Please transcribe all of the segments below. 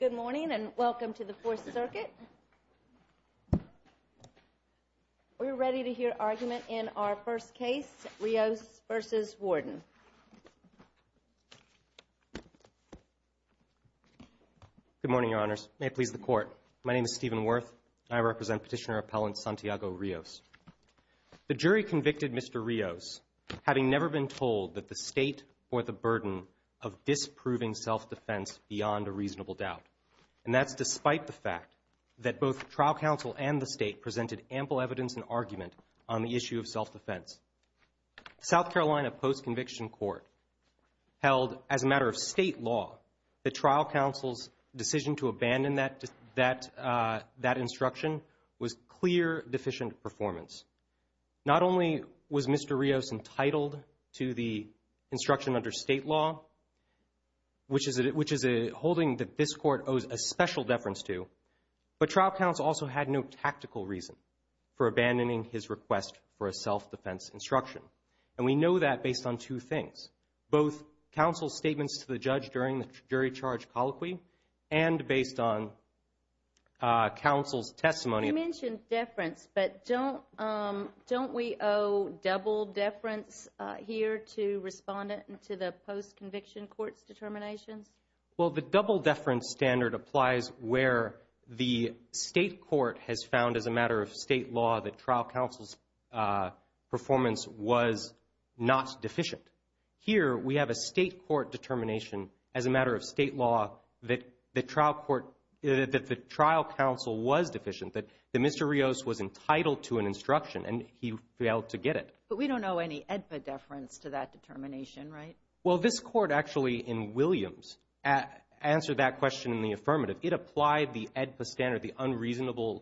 Good morning and welcome to the Fourth Circuit. We're ready to hear argument in our first case, Rios v. Warden. Good morning, Your Honors. May it please the Court. My name is Stephen Wirth. I represent Petitioner Appellant Santiago Rios. The jury convicted Mr. Rios, having never been told that the state bore the reasonable doubt, and that's despite the fact that both trial counsel and the state presented ample evidence and argument on the issue of self-defense. South Carolina Post-Conviction Court held, as a matter of state law, that trial counsel's decision to abandon that instruction was clear deficient performance. Not only was Mr. Rios entitled to the instruction under state law, which is a holding that this Court owes a special deference to, but trial counsel also had no tactical reason for abandoning his request for a self-defense instruction. And we know that based on two things, both counsel's statements to the judge during the jury charge colloquy and based on counsel's testimony. You mentioned deference, but don't we owe double deference here to the Post-Conviction Court's determinations? Well, the double deference standard applies where the state court has found, as a matter of state law, that trial counsel's performance was not deficient. Here, we have a state court determination, as a matter of state law, that the trial counsel was deficient, that Mr. Rios was entitled to an instruction, and he failed to get it. But we don't owe any AEDPA deference to that determination, right? Well, this Court actually, in Williams, answered that question in the affirmative. It applied the AEDPA standard, the unreasonable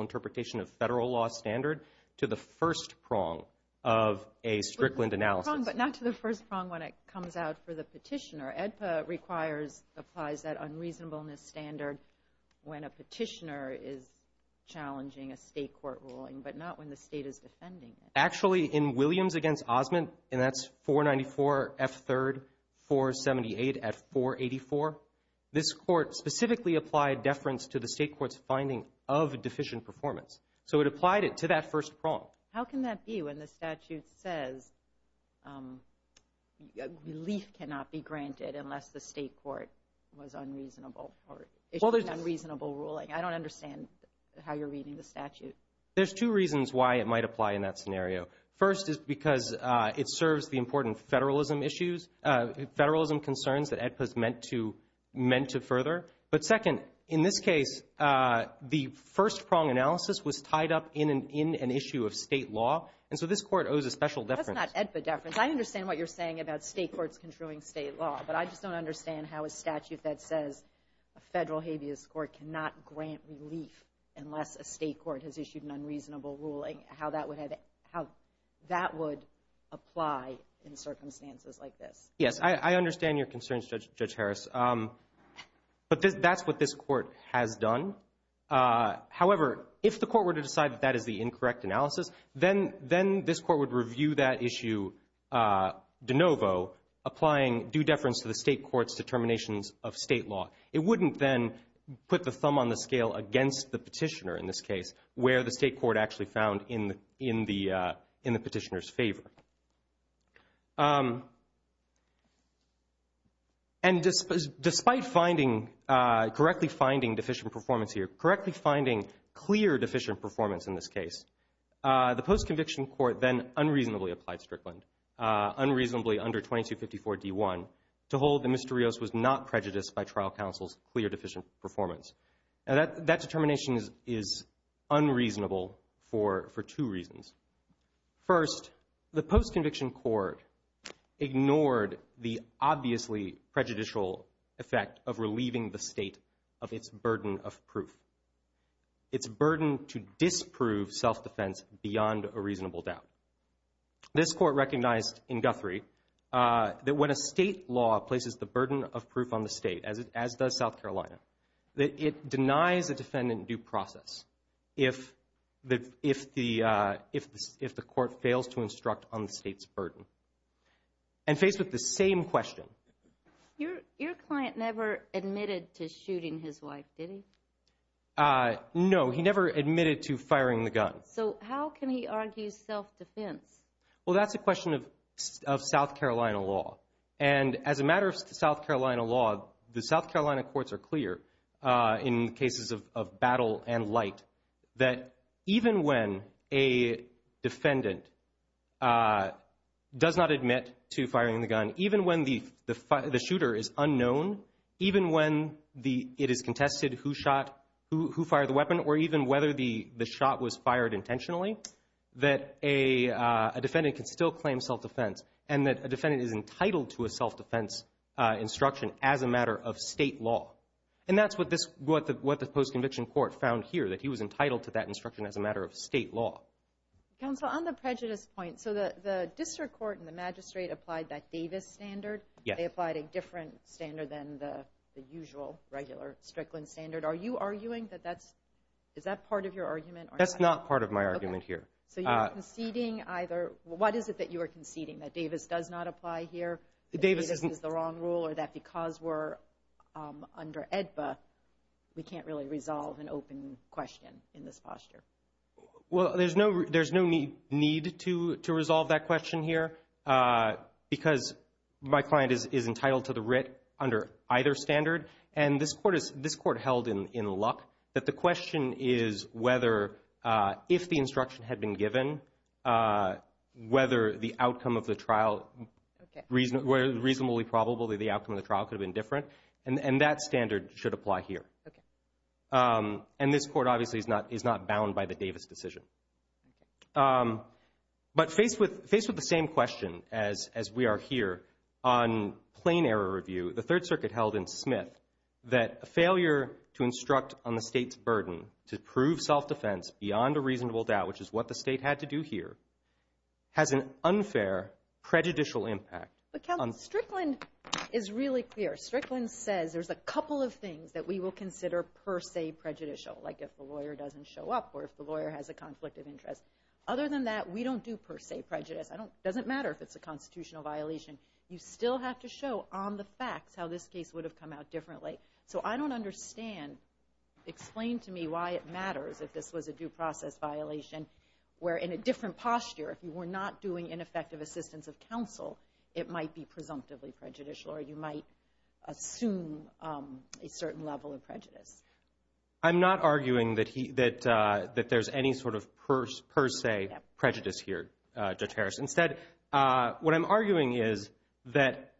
interpretation of federal law standard, to the first prong of a Strickland analysis. But not to the first prong when it comes out for the petitioner. AEDPA applies that unreasonableness standard when a petitioner is defending it. Actually, in Williams v. Osment, and that's 494 F. 3rd, 478 F. 484, this Court specifically applied deference to the state court's finding of deficient performance. So it applied it to that first prong. How can that be when the statute says relief cannot be granted unless the state court was unreasonable or issued an unreasonable ruling? I don't understand how you're reading the statute. There's two reasons why it might apply in that scenario. First is because it serves the important federalism issues, federalism concerns that AEDPA is meant to further. But second, in this case, the first prong analysis was tied up in an issue of state law, and so this Court owes a special deference. That's not AEDPA deference. I understand what you're saying about state courts construing state law, but I just don't understand how a statute that says a federal habeas court cannot grant relief unless a state court has issued an unreasonable ruling, how that would apply in circumstances like this. Yes, I understand your concerns, Judge Harris, but that's what this Court has done. However, if the Court were to decide that that is the incorrect analysis, then this Court would review that issue de novo, applying due deference to the case, and put the thumb on the scale against the petitioner in this case, where the state court actually found in the petitioner's favor. And despite correctly finding deficient performance here, correctly finding clear deficient performance in this case, the post-conviction court then unreasonably applied Strickland, unreasonably under 2254d1, to hold that Mr. Rios was not showing deficient performance. Now, that determination is unreasonable for two reasons. First, the post-conviction court ignored the obviously prejudicial effect of relieving the state of its burden of proof, its burden to disprove self-defense beyond a reasonable doubt. This court recognized in Guthrie that when a state law places the burden of proof on the state, as does South Carolina, that it denies a defendant due process if the court fails to instruct on the state's burden. And faced with the same question... Your client never admitted to shooting his wife, did he? No, he never admitted to firing the gun. So how can he argue self-defense? Well, that's a question of South Carolina law. And as a matter of South Carolina law, the South Carolina courts are clear in cases of battle and light that even when a defendant does not admit to firing the gun, even when the shooter is unknown, even when it is contested who fired the weapon, or even whether the shot was fired intentionally, that a defendant can still claim self-defense and that a defendant is entitled to a self-defense instruction as a matter of state law. And that's what the post-conviction court found here, that he was entitled to that instruction as a matter of state law. Counsel, on the prejudice point, so the district court and the magistrate applied that Davis standard. They applied a different standard than the usual regular Strickland standard. Are you arguing that that's... Is that part of your argument? That's not part of my argument here. So you're conceding either... What is it that you are conceding, that Davis does not apply here, that Davis is the wrong rule, or that because we're under EDPA, we can't really resolve an open question in this posture? Well, there's no need to resolve that question here because my client is and this court held in luck that the question is whether, if the instruction had been given, whether the outcome of the trial, reasonably probably the outcome of the trial could have been different. And that standard should apply here. And this court obviously is not bound by the Davis decision. But faced with the same question, as we are here, on plain error review, the Third Circuit held in Smith, that a failure to instruct on the state's burden to prove self-defense beyond a reasonable doubt, which is what the state had to do here, has an unfair prejudicial impact. But, Counselor, Strickland is really clear. Strickland says there's a couple of things that we will consider per se prejudicial, like if the lawyer doesn't show up or if the lawyer has a conflict of interest. Other than that, we don't do per se prejudice. It doesn't matter if it's a constitutional violation. You still have to show on the facts how this case would have come out differently. So I don't understand. Explain to me why it matters if this was a due process violation where, in a different posture, if you were not doing ineffective assistance of counsel, it might be presumptively prejudicial or you might assume a certain level of prejudice. I'm not arguing that there's any sort of per se prejudice here, Judge Harris. Instead, what I'm arguing is that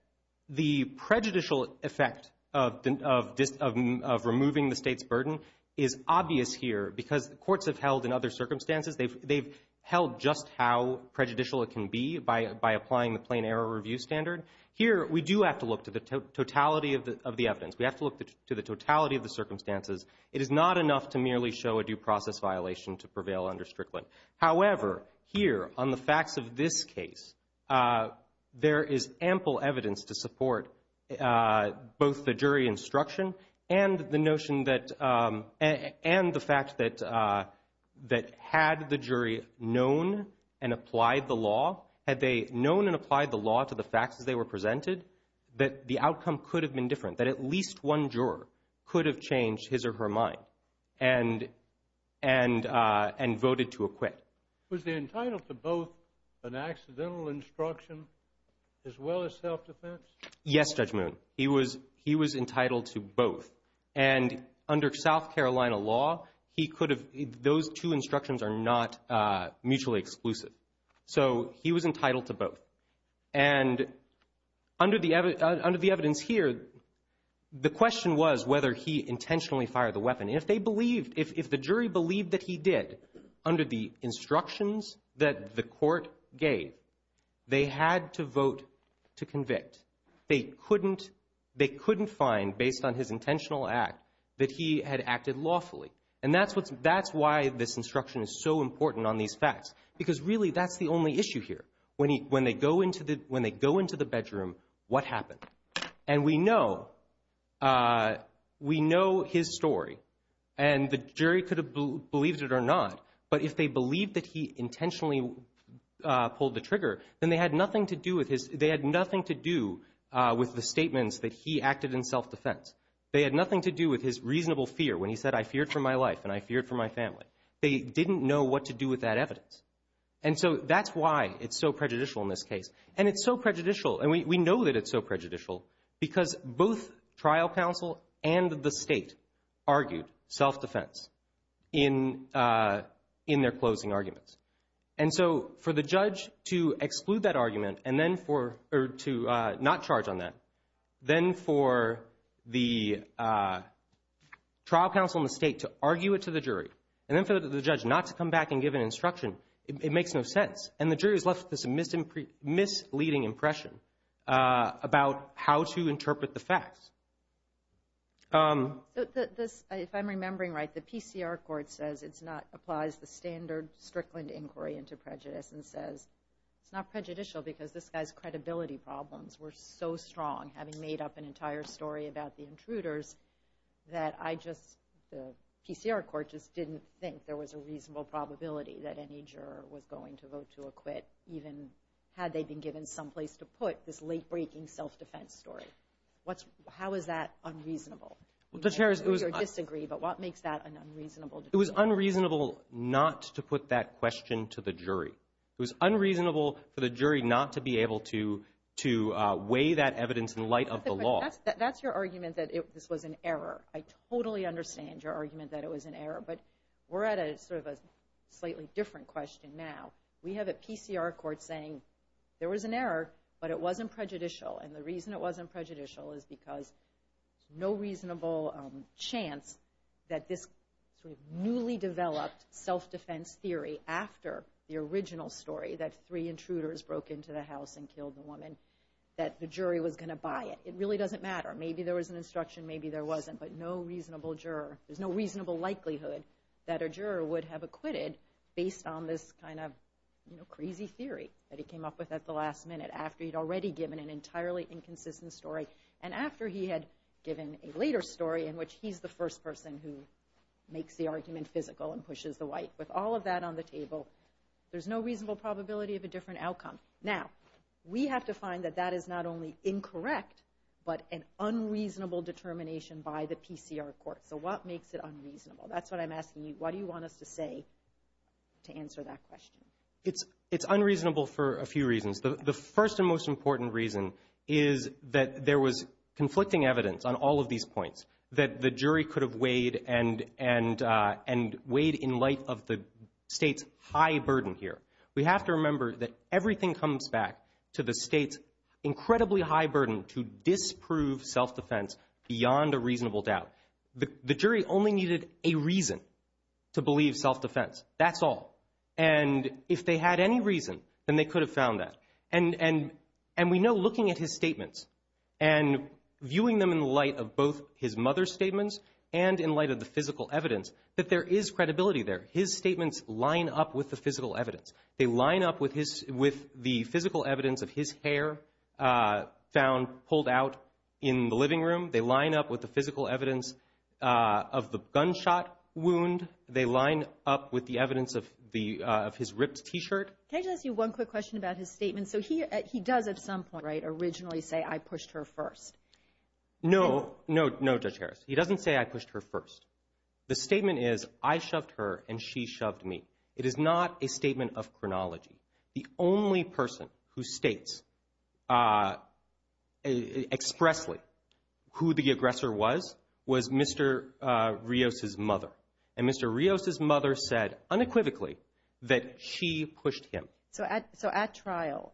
the prejudicial effect of removing the state's burden is obvious here because the courts have held in other circumstances, they've held just how prejudicial it can be by applying the plain error review standard. Here, we do have to look to the totality of the evidence. We have to look to the totality of the circumstances. It is not enough to merely show a due process violation to prevail under Strickland. However, here, on the facts of this case, there is ample evidence to support both the jury instruction and the notion that, and the fact that had the jury known and applied the law, had they known and applied the law to the facts as they were presented, that the outcome could have been different, that at least one juror could have changed his or her mind and voted to acquit. Was he entitled to both an accidental instruction as well as self-defense? Yes, Judge Moon. He was entitled to both. And under South Carolina law, he could have, those two instructions are not mutually exclusive. So he was entitled to both. And under the evidence here, the question was whether he intentionally fired the weapon. If they believed, if the jury believed that he did under the instructions that the court gave, they had to vote to convict. They couldn't find, based on his intentional act, that he had acted lawfully. And that's why this instruction is so important on these facts. Because really, that's the only issue here. When they go into the bedroom, what happened? And we know his story. And the jury could have believed it or not. But if they believed that he intentionally pulled the trigger, then they had nothing to do with his, they had nothing to do with the statements that he acted in self-defense. They had nothing to do with his reasonable fear when he said, I feared for my life and I feared for my family. They didn't know what to do with that evidence. And so that's why it's so prejudicial in this case. And it's so prejudicial, and we know that it's so prejudicial, because both trial counsel and the state argued self-defense in their closing arguments. And so for the judge to exclude that argument and then for, or to not charge on that, then for the trial counsel and the state to argue it to the jury, and then for the judge not to come back and give an instruction, it makes no sense. And the jury has left this misleading impression about how to interpret the facts. If I'm remembering right, the PCR court says it's not, applies the standard Strickland inquiry into prejudice and says, it's not prejudicial because this guy's credibility problems were so strong, having made up an entire story about the intruders, that I just, the PCR court just didn't think there was a reasonable probability that any juror was going to vote to acquit, even had they've been given someplace to put this late-breaking self-defense story. What's, how is that unreasonable? Judge Harris, it was... You disagree, but what makes that an unreasonable... It was unreasonable not to put that question to the jury. It was unreasonable for the jury not to be able to, to weigh that evidence in light of the law. That's your argument that this was an error. I totally understand your argument that it was an error, but we're at a sort of a slightly different question now. We have a PCR court saying there was an error, but it wasn't prejudicial, and the reason it wasn't prejudicial is because no reasonable chance that this newly developed self-defense theory, after the original story that three intruders broke into the house and killed the woman, that the jury was going to buy it. It really doesn't matter. Maybe there was an instruction, maybe there wasn't, but no reasonable juror, there's no reasonable likelihood that a juror would have a crazy theory that he came up with at the last minute after he'd already given an entirely inconsistent story, and after he had given a later story in which he's the first person who makes the argument physical and pushes the white. With all of that on the table, there's no reasonable probability of a different outcome. Now, we have to find that that is not only incorrect, but an unreasonable determination by the PCR court. So what makes it unreasonable? That's what I'm supposed to say to answer that question. It's unreasonable for a few reasons. The first and most important reason is that there was conflicting evidence on all of these points that the jury could have weighed and weighed in light of the state's high burden here. We have to remember that everything comes back to the state's incredibly high burden to disprove self-defense beyond a reasonable doubt. The jury only needed a reason to believe self-defense. That's all. And if they had any reason, then they could have found that. And we know, looking at his statements and viewing them in the light of both his mother's statements and in light of the physical evidence, that there is credibility there. His statements line up with the physical evidence. They line up with the physical evidence of his hair found pulled out in the living room. They line up with the physical evidence of the gunshot wound. They line up with the evidence of his ripped t-shirt. Can I just ask you one quick question about his statement? So he does, at some point, originally say, I pushed her first. No. No, Judge Harris. He doesn't say I pushed her first. The statement is, I shoved her and she shoved me. It is not a statement of chronology. The only person who states expressly who the aggressor was, was Mr. Rios' mother. And Mr. Rios' mother said, unequivocally, that she pushed him. So at trial,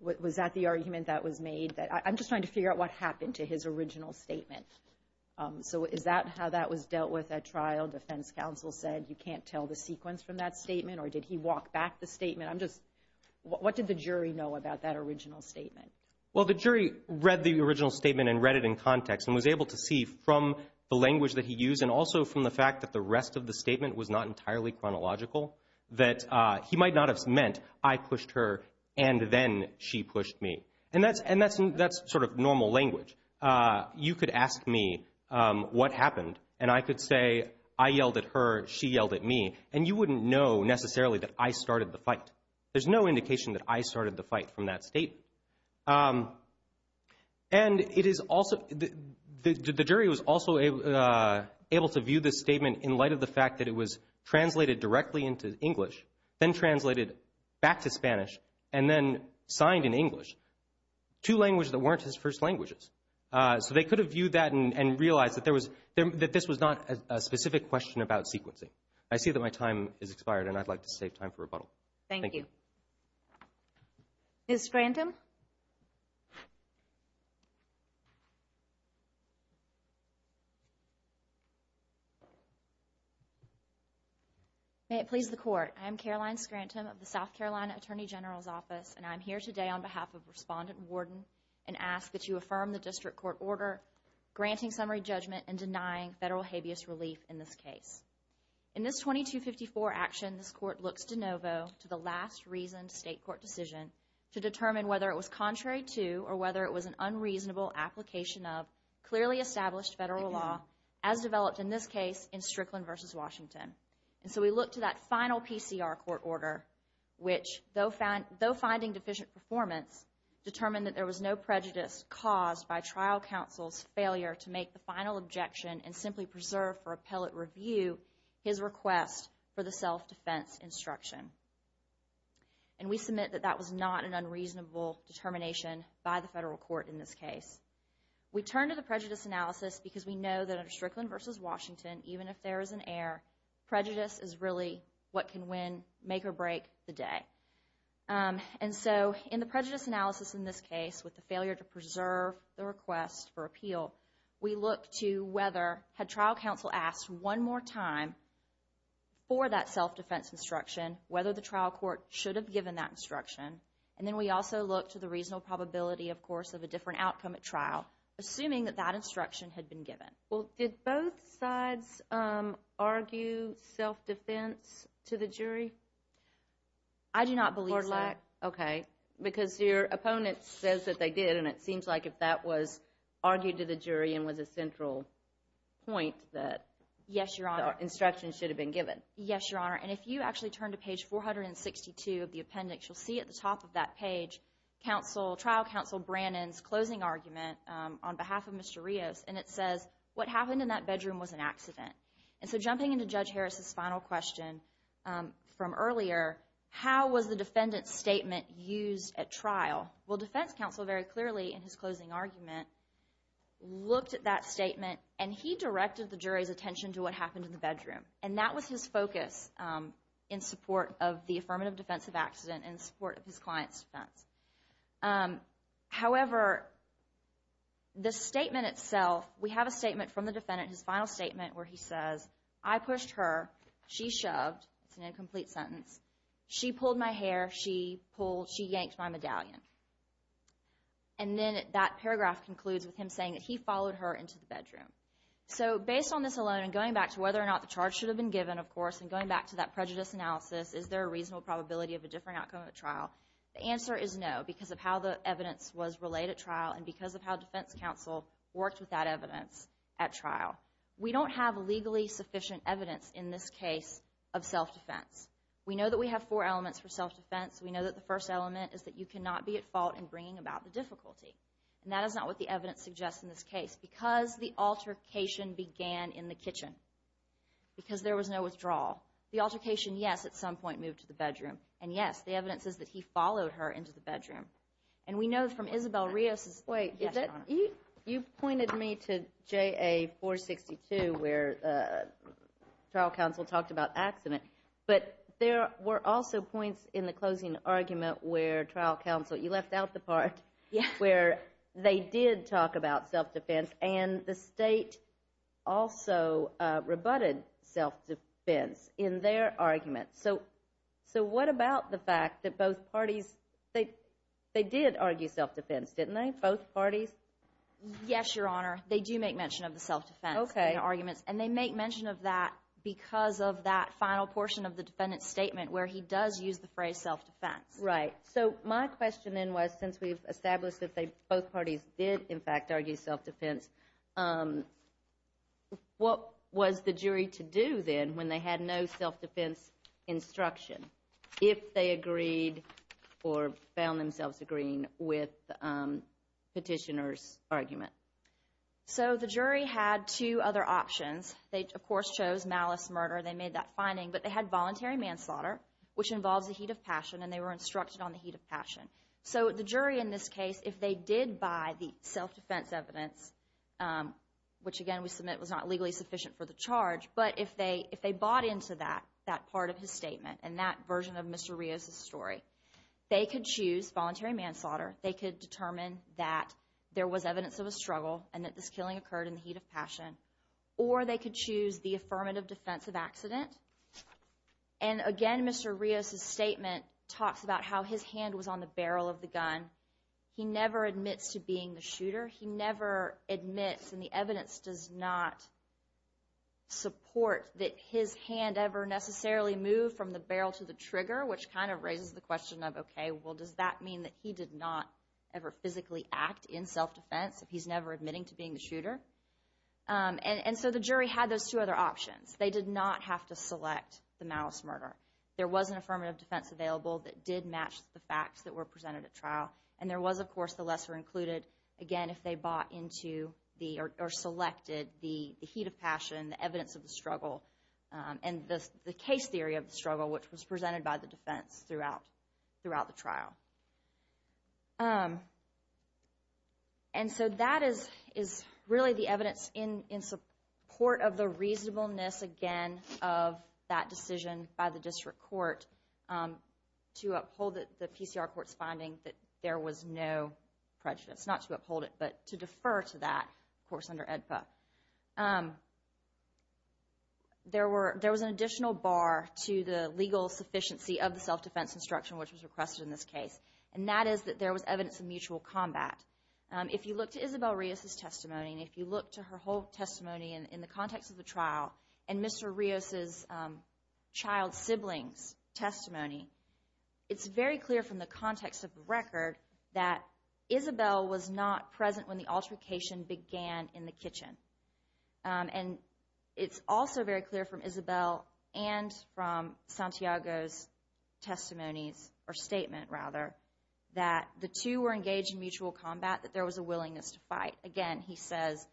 was that the argument that was made? I'm just trying to figure out what happened to his original statement. So is that how that was dealt with at trial? Defense counsel said you can't tell the sequence from that statement? Or did he walk back the statement? I'm just, what did the jury know about that original statement? Well, the jury read the original statement and read it in context and was able to see from the language that he used and also from the fact that the rest of the statement was not entirely chronological, that he might not have meant, I pushed her and then she pushed me. And that's sort of normal language. You could ask me what happened and I could say, I yelled at her, she yelled at me. And you wouldn't know necessarily that I started the fight. There's no indication that I started the fight from that statement. And it is also, the jury was also able to view this statement in light of the fact that it was translated directly into English, then translated back to Spanish, and then signed in English, two languages that weren't his first languages. So they could have viewed that and realized that there was, that this was not a specific question about sequencing. I see that my time has expired and I'd like to save time for rebuttal. Thank you. Ms. Scranton? May it please the court. I'm Caroline Scranton of the South Carolina Attorney General's Office and I'm here today on behalf of Respondent Warden and ask that you affirm the district court order granting summary judgment and denying federal habeas relief in this case. In this 2254 action, this court looks de novo to the last reasoned state court decision to determine whether it was contrary to or whether it was an unreasonable application of clearly established federal law as developed in this case in Strickland v. Washington. And so we look to that final PCR court order, which though finding deficient performance, determined that there was no prejudice caused by trial counsel's failure to make the final objection and simply preserve for appellate review his request for the self-defense instruction. And we submit that that was not an unreasonable determination by the federal court in this case. We turn to the prejudice analysis because we know that under Strickland v. Washington, even if there is an error, prejudice is really what can win, make or break the day. And so in the prejudice analysis in this case, with the failure to preserve the request for the self-defense instruction, we look to whether, had trial counsel asked one more time for that self-defense instruction, whether the trial court should have given that instruction. And then we also look to the reasonable probability, of course, of a different outcome at trial, assuming that that instruction had been given. Well, did both sides argue self-defense to the jury? I do not believe so. Or lack? Okay, because your opponent says that they did and it seems like if that was the central point that instruction should have been given. Yes, Your Honor. And if you actually turn to page 462 of the appendix, you'll see at the top of that page, trial counsel Brannon's closing argument on behalf of Mr. Rios, and it says, what happened in that bedroom was an accident. And so jumping into Judge Harris's final question from earlier, how was the defendant's statement used at trial? Well, defense counsel very clearly in his closing argument looked at that statement and he directed the jury's attention to what happened in the bedroom. And that was his focus in support of the affirmative defense of accident and support of his client's defense. However, the statement itself, we have a statement from the defendant, his final statement, where he says, I pushed her, she shoved, it's an incomplete sentence, she pulled my hair, she pulled, she yanked my medallion. And then that paragraph concludes with him saying that he followed her into the bedroom. So based on this alone and going back to whether or not the charge should have been given, of course, and going back to that prejudice analysis, is there a reasonable probability of a different outcome at trial? The answer is no, because of how the evidence was relayed at trial and because of how defense counsel worked with that evidence at trial. We don't have legally sufficient evidence in this case of self-defense. We know that we have four elements for self-defense. We know that the first element is that you cannot be at fault in bringing about the difficulty. And that is not what the evidence suggests in this case. Because the altercation began in the kitchen, because there was no withdrawal, the altercation, yes, at some point moved to the bedroom. And yes, the evidence is that he followed her into the bedroom. And we know from Isabel Rios's... Wait, you've pointed me to JA 462 where trial counsel talked about accident. But there were also points in the closing argument where trial counsel, you left out the part where they did talk about self-defense and the state also rebutted self-defense in their argument. So what about the fact that both parties, they did argue self-defense, didn't they, both parties? Yes, Your Honor, they do make mention of the self-defense in their arguments. And they make that final portion of the defendant's statement where he does use the phrase self-defense. Right. So my question then was, since we've established that they, both parties, did in fact argue self-defense, what was the jury to do then when they had no self-defense instruction, if they agreed or found themselves agreeing with the petitioner's argument? So the jury had two other options. They, of course, chose malice, murder. They made that finding. But they had voluntary manslaughter, which involves the heat of passion, and they were instructed on the heat of passion. So the jury in this case, if they did buy the self-defense evidence, which again we submit was not legally sufficient for the charge, but if they bought into that part of his statement and that version of Mr. Rios's story, they could choose voluntary manslaughter. They could determine that there was evidence of a struggle and that this killing occurred in the heat of passion. Or they could choose the affirmative defensive accident. And again, Mr. Rios's statement talks about how his hand was on the barrel of the gun. He never admits to being the shooter. He never admits, and the evidence does not support that his hand ever necessarily moved from the barrel to the trigger, which kind of raises the question of, okay, well does that mean that he did not ever physically act in self-defense if he's never admitting to being the shooter? And so the jury had those two other options. They did not have to select the malice murder. There was an affirmative defense available that did match the facts that were presented at trial, and there was, of course, the lesser included. Again, if they bought into or selected the heat of passion, the evidence of the struggle, and the case theory of the struggle, which was presented by the defense throughout the trial. And so that is really the evidence in support of the reasonableness, again, of that decision by the district court to uphold the PCR court's finding that there was no prejudice. Not to uphold it, but to defer to that, of course, under AEDPA. There was an additional bar to the legal sufficiency of the self-defense instruction, which was requested in this case, and that is that there was evidence of mutual combat. If you look to Isabel Rios' testimony, and if you look to her whole testimony in the context of the trial, and Mr. Rios' child sibling's testimony, it's very clear from the context of the record that Isabel was not present when the altercation began in the kitchen. And it's also very clear from Isabel and from Santiago's testimonies, or statement rather, that the two were engaged in mutual combat, that there was a willingness to fight. Again, he says,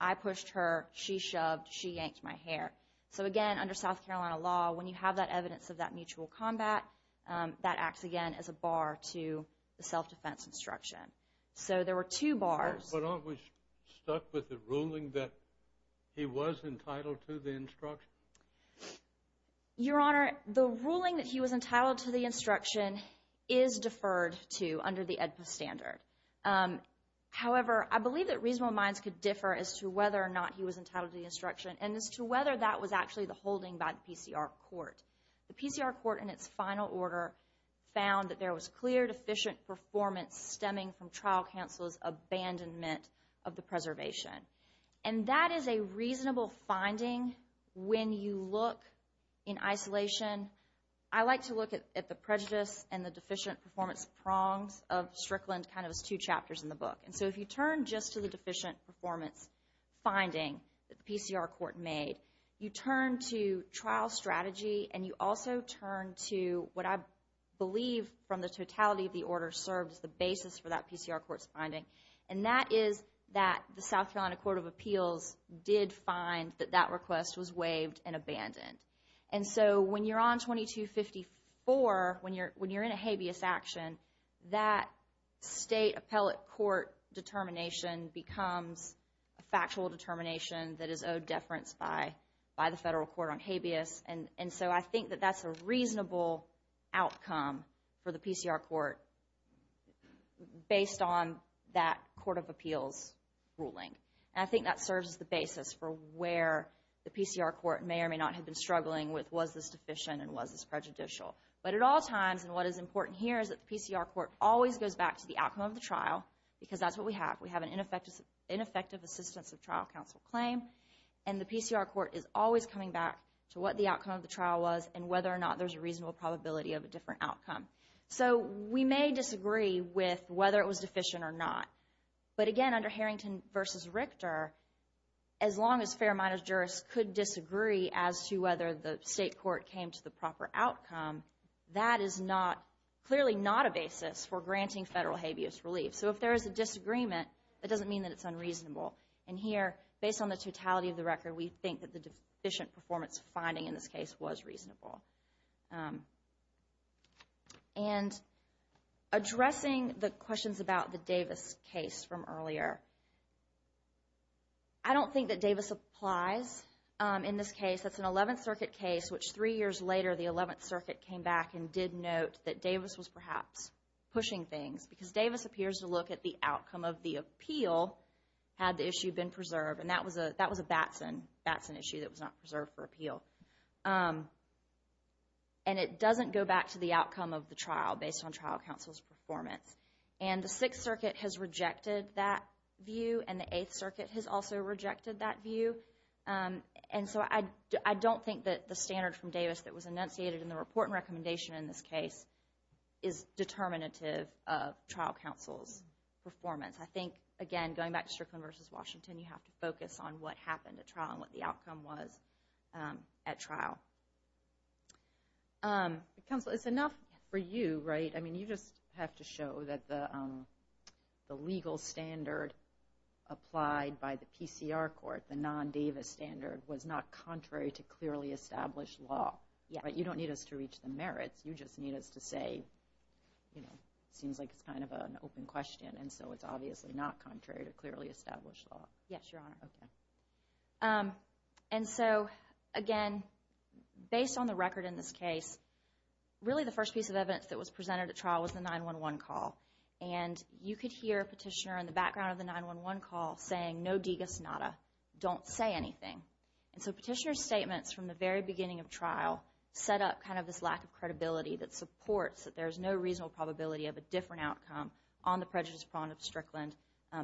I pushed her, she shoved, she yanked my hair. So again, under South Carolina law, when you have that evidence of that mutual combat, that acts again as a bar to the self-defense instruction. So there were two bars. But aren't we stuck with the ruling that he was entitled to the instruction? Your Honor, the ruling that he was entitled to the instruction is deferred to under the AEDPA standard. However, I believe that reasonable minds could differ as to whether or not he was entitled to the instruction, and as to whether that was actually the holding by the PCR court. The PCR court, in its final order, found that there was clear deficient performance stemming from trial counsel's abandonment of the preservation. And that is a reasonable finding when you look in isolation. I like to look at the prejudice and the deficient performance prongs of Strickland kind of as two chapters in the book. And so if you turn just to the deficient performance finding that the PCR court made, you turn to trial strategy, and you also turn to what I was finding. And that is that the South Carolina Court of Appeals did find that that request was waived and abandoned. And so when you're on 2254, when you're when you're in a habeas action, that state appellate court determination becomes a factual determination that is owed deference by the federal court on habeas. And so I think that that's a reasonable outcome for the PCR court based on that Court of Appeals ruling. I think that serves as the basis for where the PCR court may or may not have been struggling with was this deficient and was this prejudicial. But at all times, and what is important here, is that the PCR court always goes back to the outcome of the trial, because that's what we have. We have an ineffective assistance of trial counsel claim, and the PCR court is always coming back to what the outcome of the trial was, and whether or not there's a reasonable probability of a different outcome. So we may disagree with whether it was deficient or not. But again, under Harrington v. Richter, as long as fair minors jurists could disagree as to whether the state court came to the proper outcome, that is not, clearly not, a basis for granting federal habeas relief. So if there is a disagreement, it doesn't mean that it's unreasonable. And here, based on the totality of the record, we think that the deficient performance finding in this case was reasonable. And addressing the questions about the Davis case from earlier, I don't think that Davis applies in this case. That's an 11th Circuit case, which three years later, the 11th Circuit came back and did note that Davis was perhaps pushing things, because Davis appears to look at the outcome of the appeal, had the issue been preserved. And that was a that was a Batson issue that was not on trial counsel's performance. And the 6th Circuit has rejected that view, and the 8th Circuit has also rejected that view. And so I don't think that the standard from Davis that was enunciated in the report and recommendation in this case is determinative of trial counsel's performance. I think, again, going back to Strickland v. Washington, you have to focus on what happened at trial and what counsel, it's enough for you, right? I mean, you just have to show that the the legal standard applied by the PCR court, the non Davis standard was not contrary to clearly established law. Yeah, but you don't need us to reach the merits. You just need us to say, you know, seems like it's kind of an open question. And so it's obviously not contrary to clearly established law. Yes, Your Honor. And so, again, based on the record in this case, really the first piece of evidence that was presented at trial was the 9-1-1 call. And you could hear a petitioner in the background of the 9-1-1 call saying, no digus nada, don't say anything. And so petitioner's statements from the very beginning of trial set up kind of this lack of credibility that supports that there's no reasonable probability of a different outcome on the prejudice prong of Strickland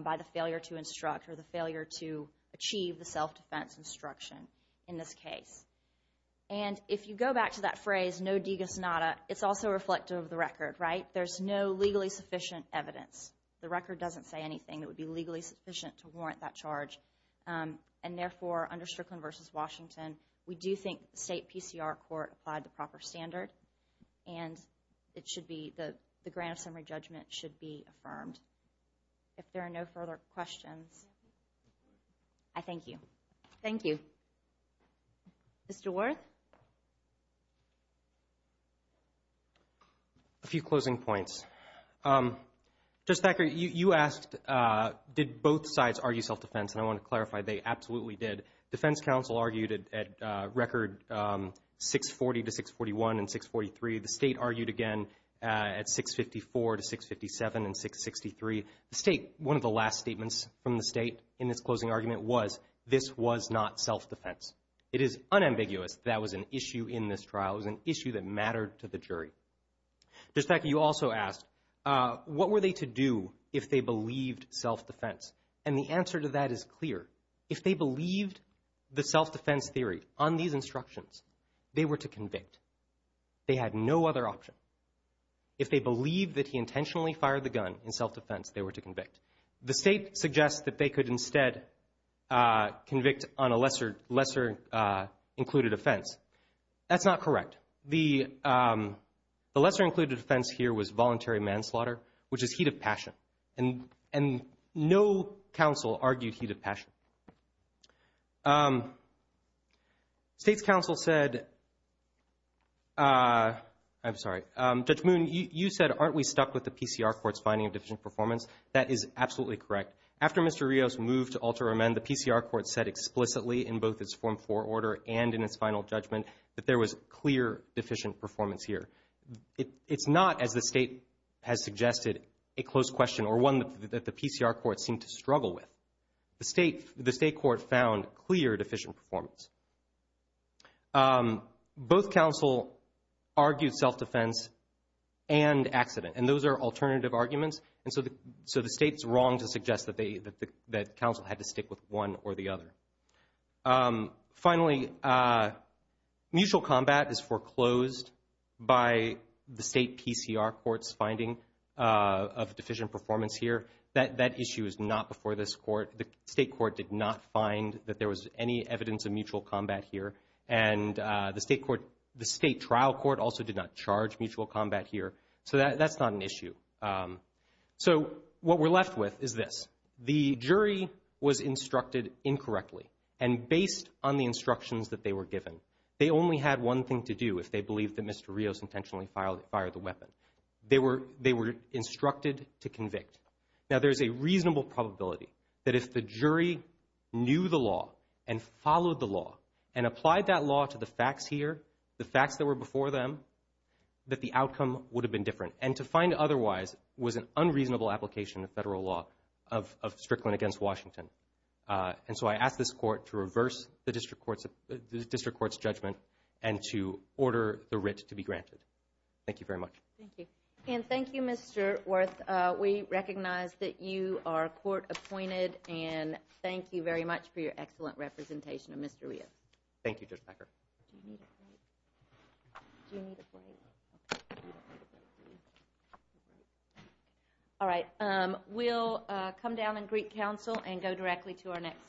by the failure to instruct or the failure to achieve the self-defense instruction in this case. And if you go back to that phrase, no digus nada, it's also reflective of the record, right? There's no legally sufficient evidence. The record doesn't say anything that would be legally sufficient to warrant that charge. And therefore, under Strickland versus Washington, we do think the state PCR court applied the proper standard and it should be affirmed. If there are no further questions, I thank you. Thank you. Mr. Worth? A few closing points. Judge Thacker, you asked, did both sides argue self-defense? And I want to clarify, they absolutely did. Defense counsel argued at record 640 to 641 and 643. The state argued again at 654 to 657 and 663. The state, one of the last statements from the state in this closing argument was, this was not self-defense. It is unambiguous that was an issue in this trial. It was an issue that mattered to the jury. Judge Thacker, you also asked, what were they to do if they believed self-defense? And the answer to that is clear. If they believed the gun, they were to convict. They had no other option. If they believed that he intentionally fired the gun in self-defense, they were to convict. The state suggests that they could instead convict on a lesser-included offense. That's not correct. The lesser-included offense here was voluntary manslaughter, which is heat of passion. And no counsel argued heat of passion. State's counsel said, I'm sorry, Judge Moon, you said, aren't we stuck with the PCR Court's finding of deficient performance? That is absolutely correct. After Mr. Rios moved to alter amend, the PCR Court said explicitly in both its Form 4 order and in its final judgment that there was clear deficient performance here. It's not, as the state has suggested, a close question or one that the PCR Court seemed to struggle with. The state court found clear deficient performance. Both counsel argued self-defense and accident. And those are alternative arguments. And so the state's wrong to suggest that counsel had to stick with one or the other. Finally, mutual combat is foreclosed by the state PCR Court's finding of deficient performance here. That issue is not before this court. The state court did not find that there was any evidence of mutual combat here. And the state trial court also did not charge mutual combat here. So that's not an issue. So what we're left with is this. The jury was instructed incorrectly. And based on the instructions that they were given, they only had one thing to do if they believed that Mr. Rios intentionally fired the weapon. They were instructed to convict. Now, there's a reasonable probability that if the jury knew the law and followed the law and applied that law to the facts here, the facts that were before them, that the outcome would have been different. And to find otherwise was an unreasonable application of federal law of Strickland against Washington. And so I asked this court to reverse the district court's judgment and to order the writ to be granted. Thank you very much. Thank you. And thank you, Mr. Worth. We recognize that you are court appointed. And thank you very much for your excellent representation of Mr. Rios. Thank you, Judge Becker. All right. We'll come down in Greek council and go directly to our next case.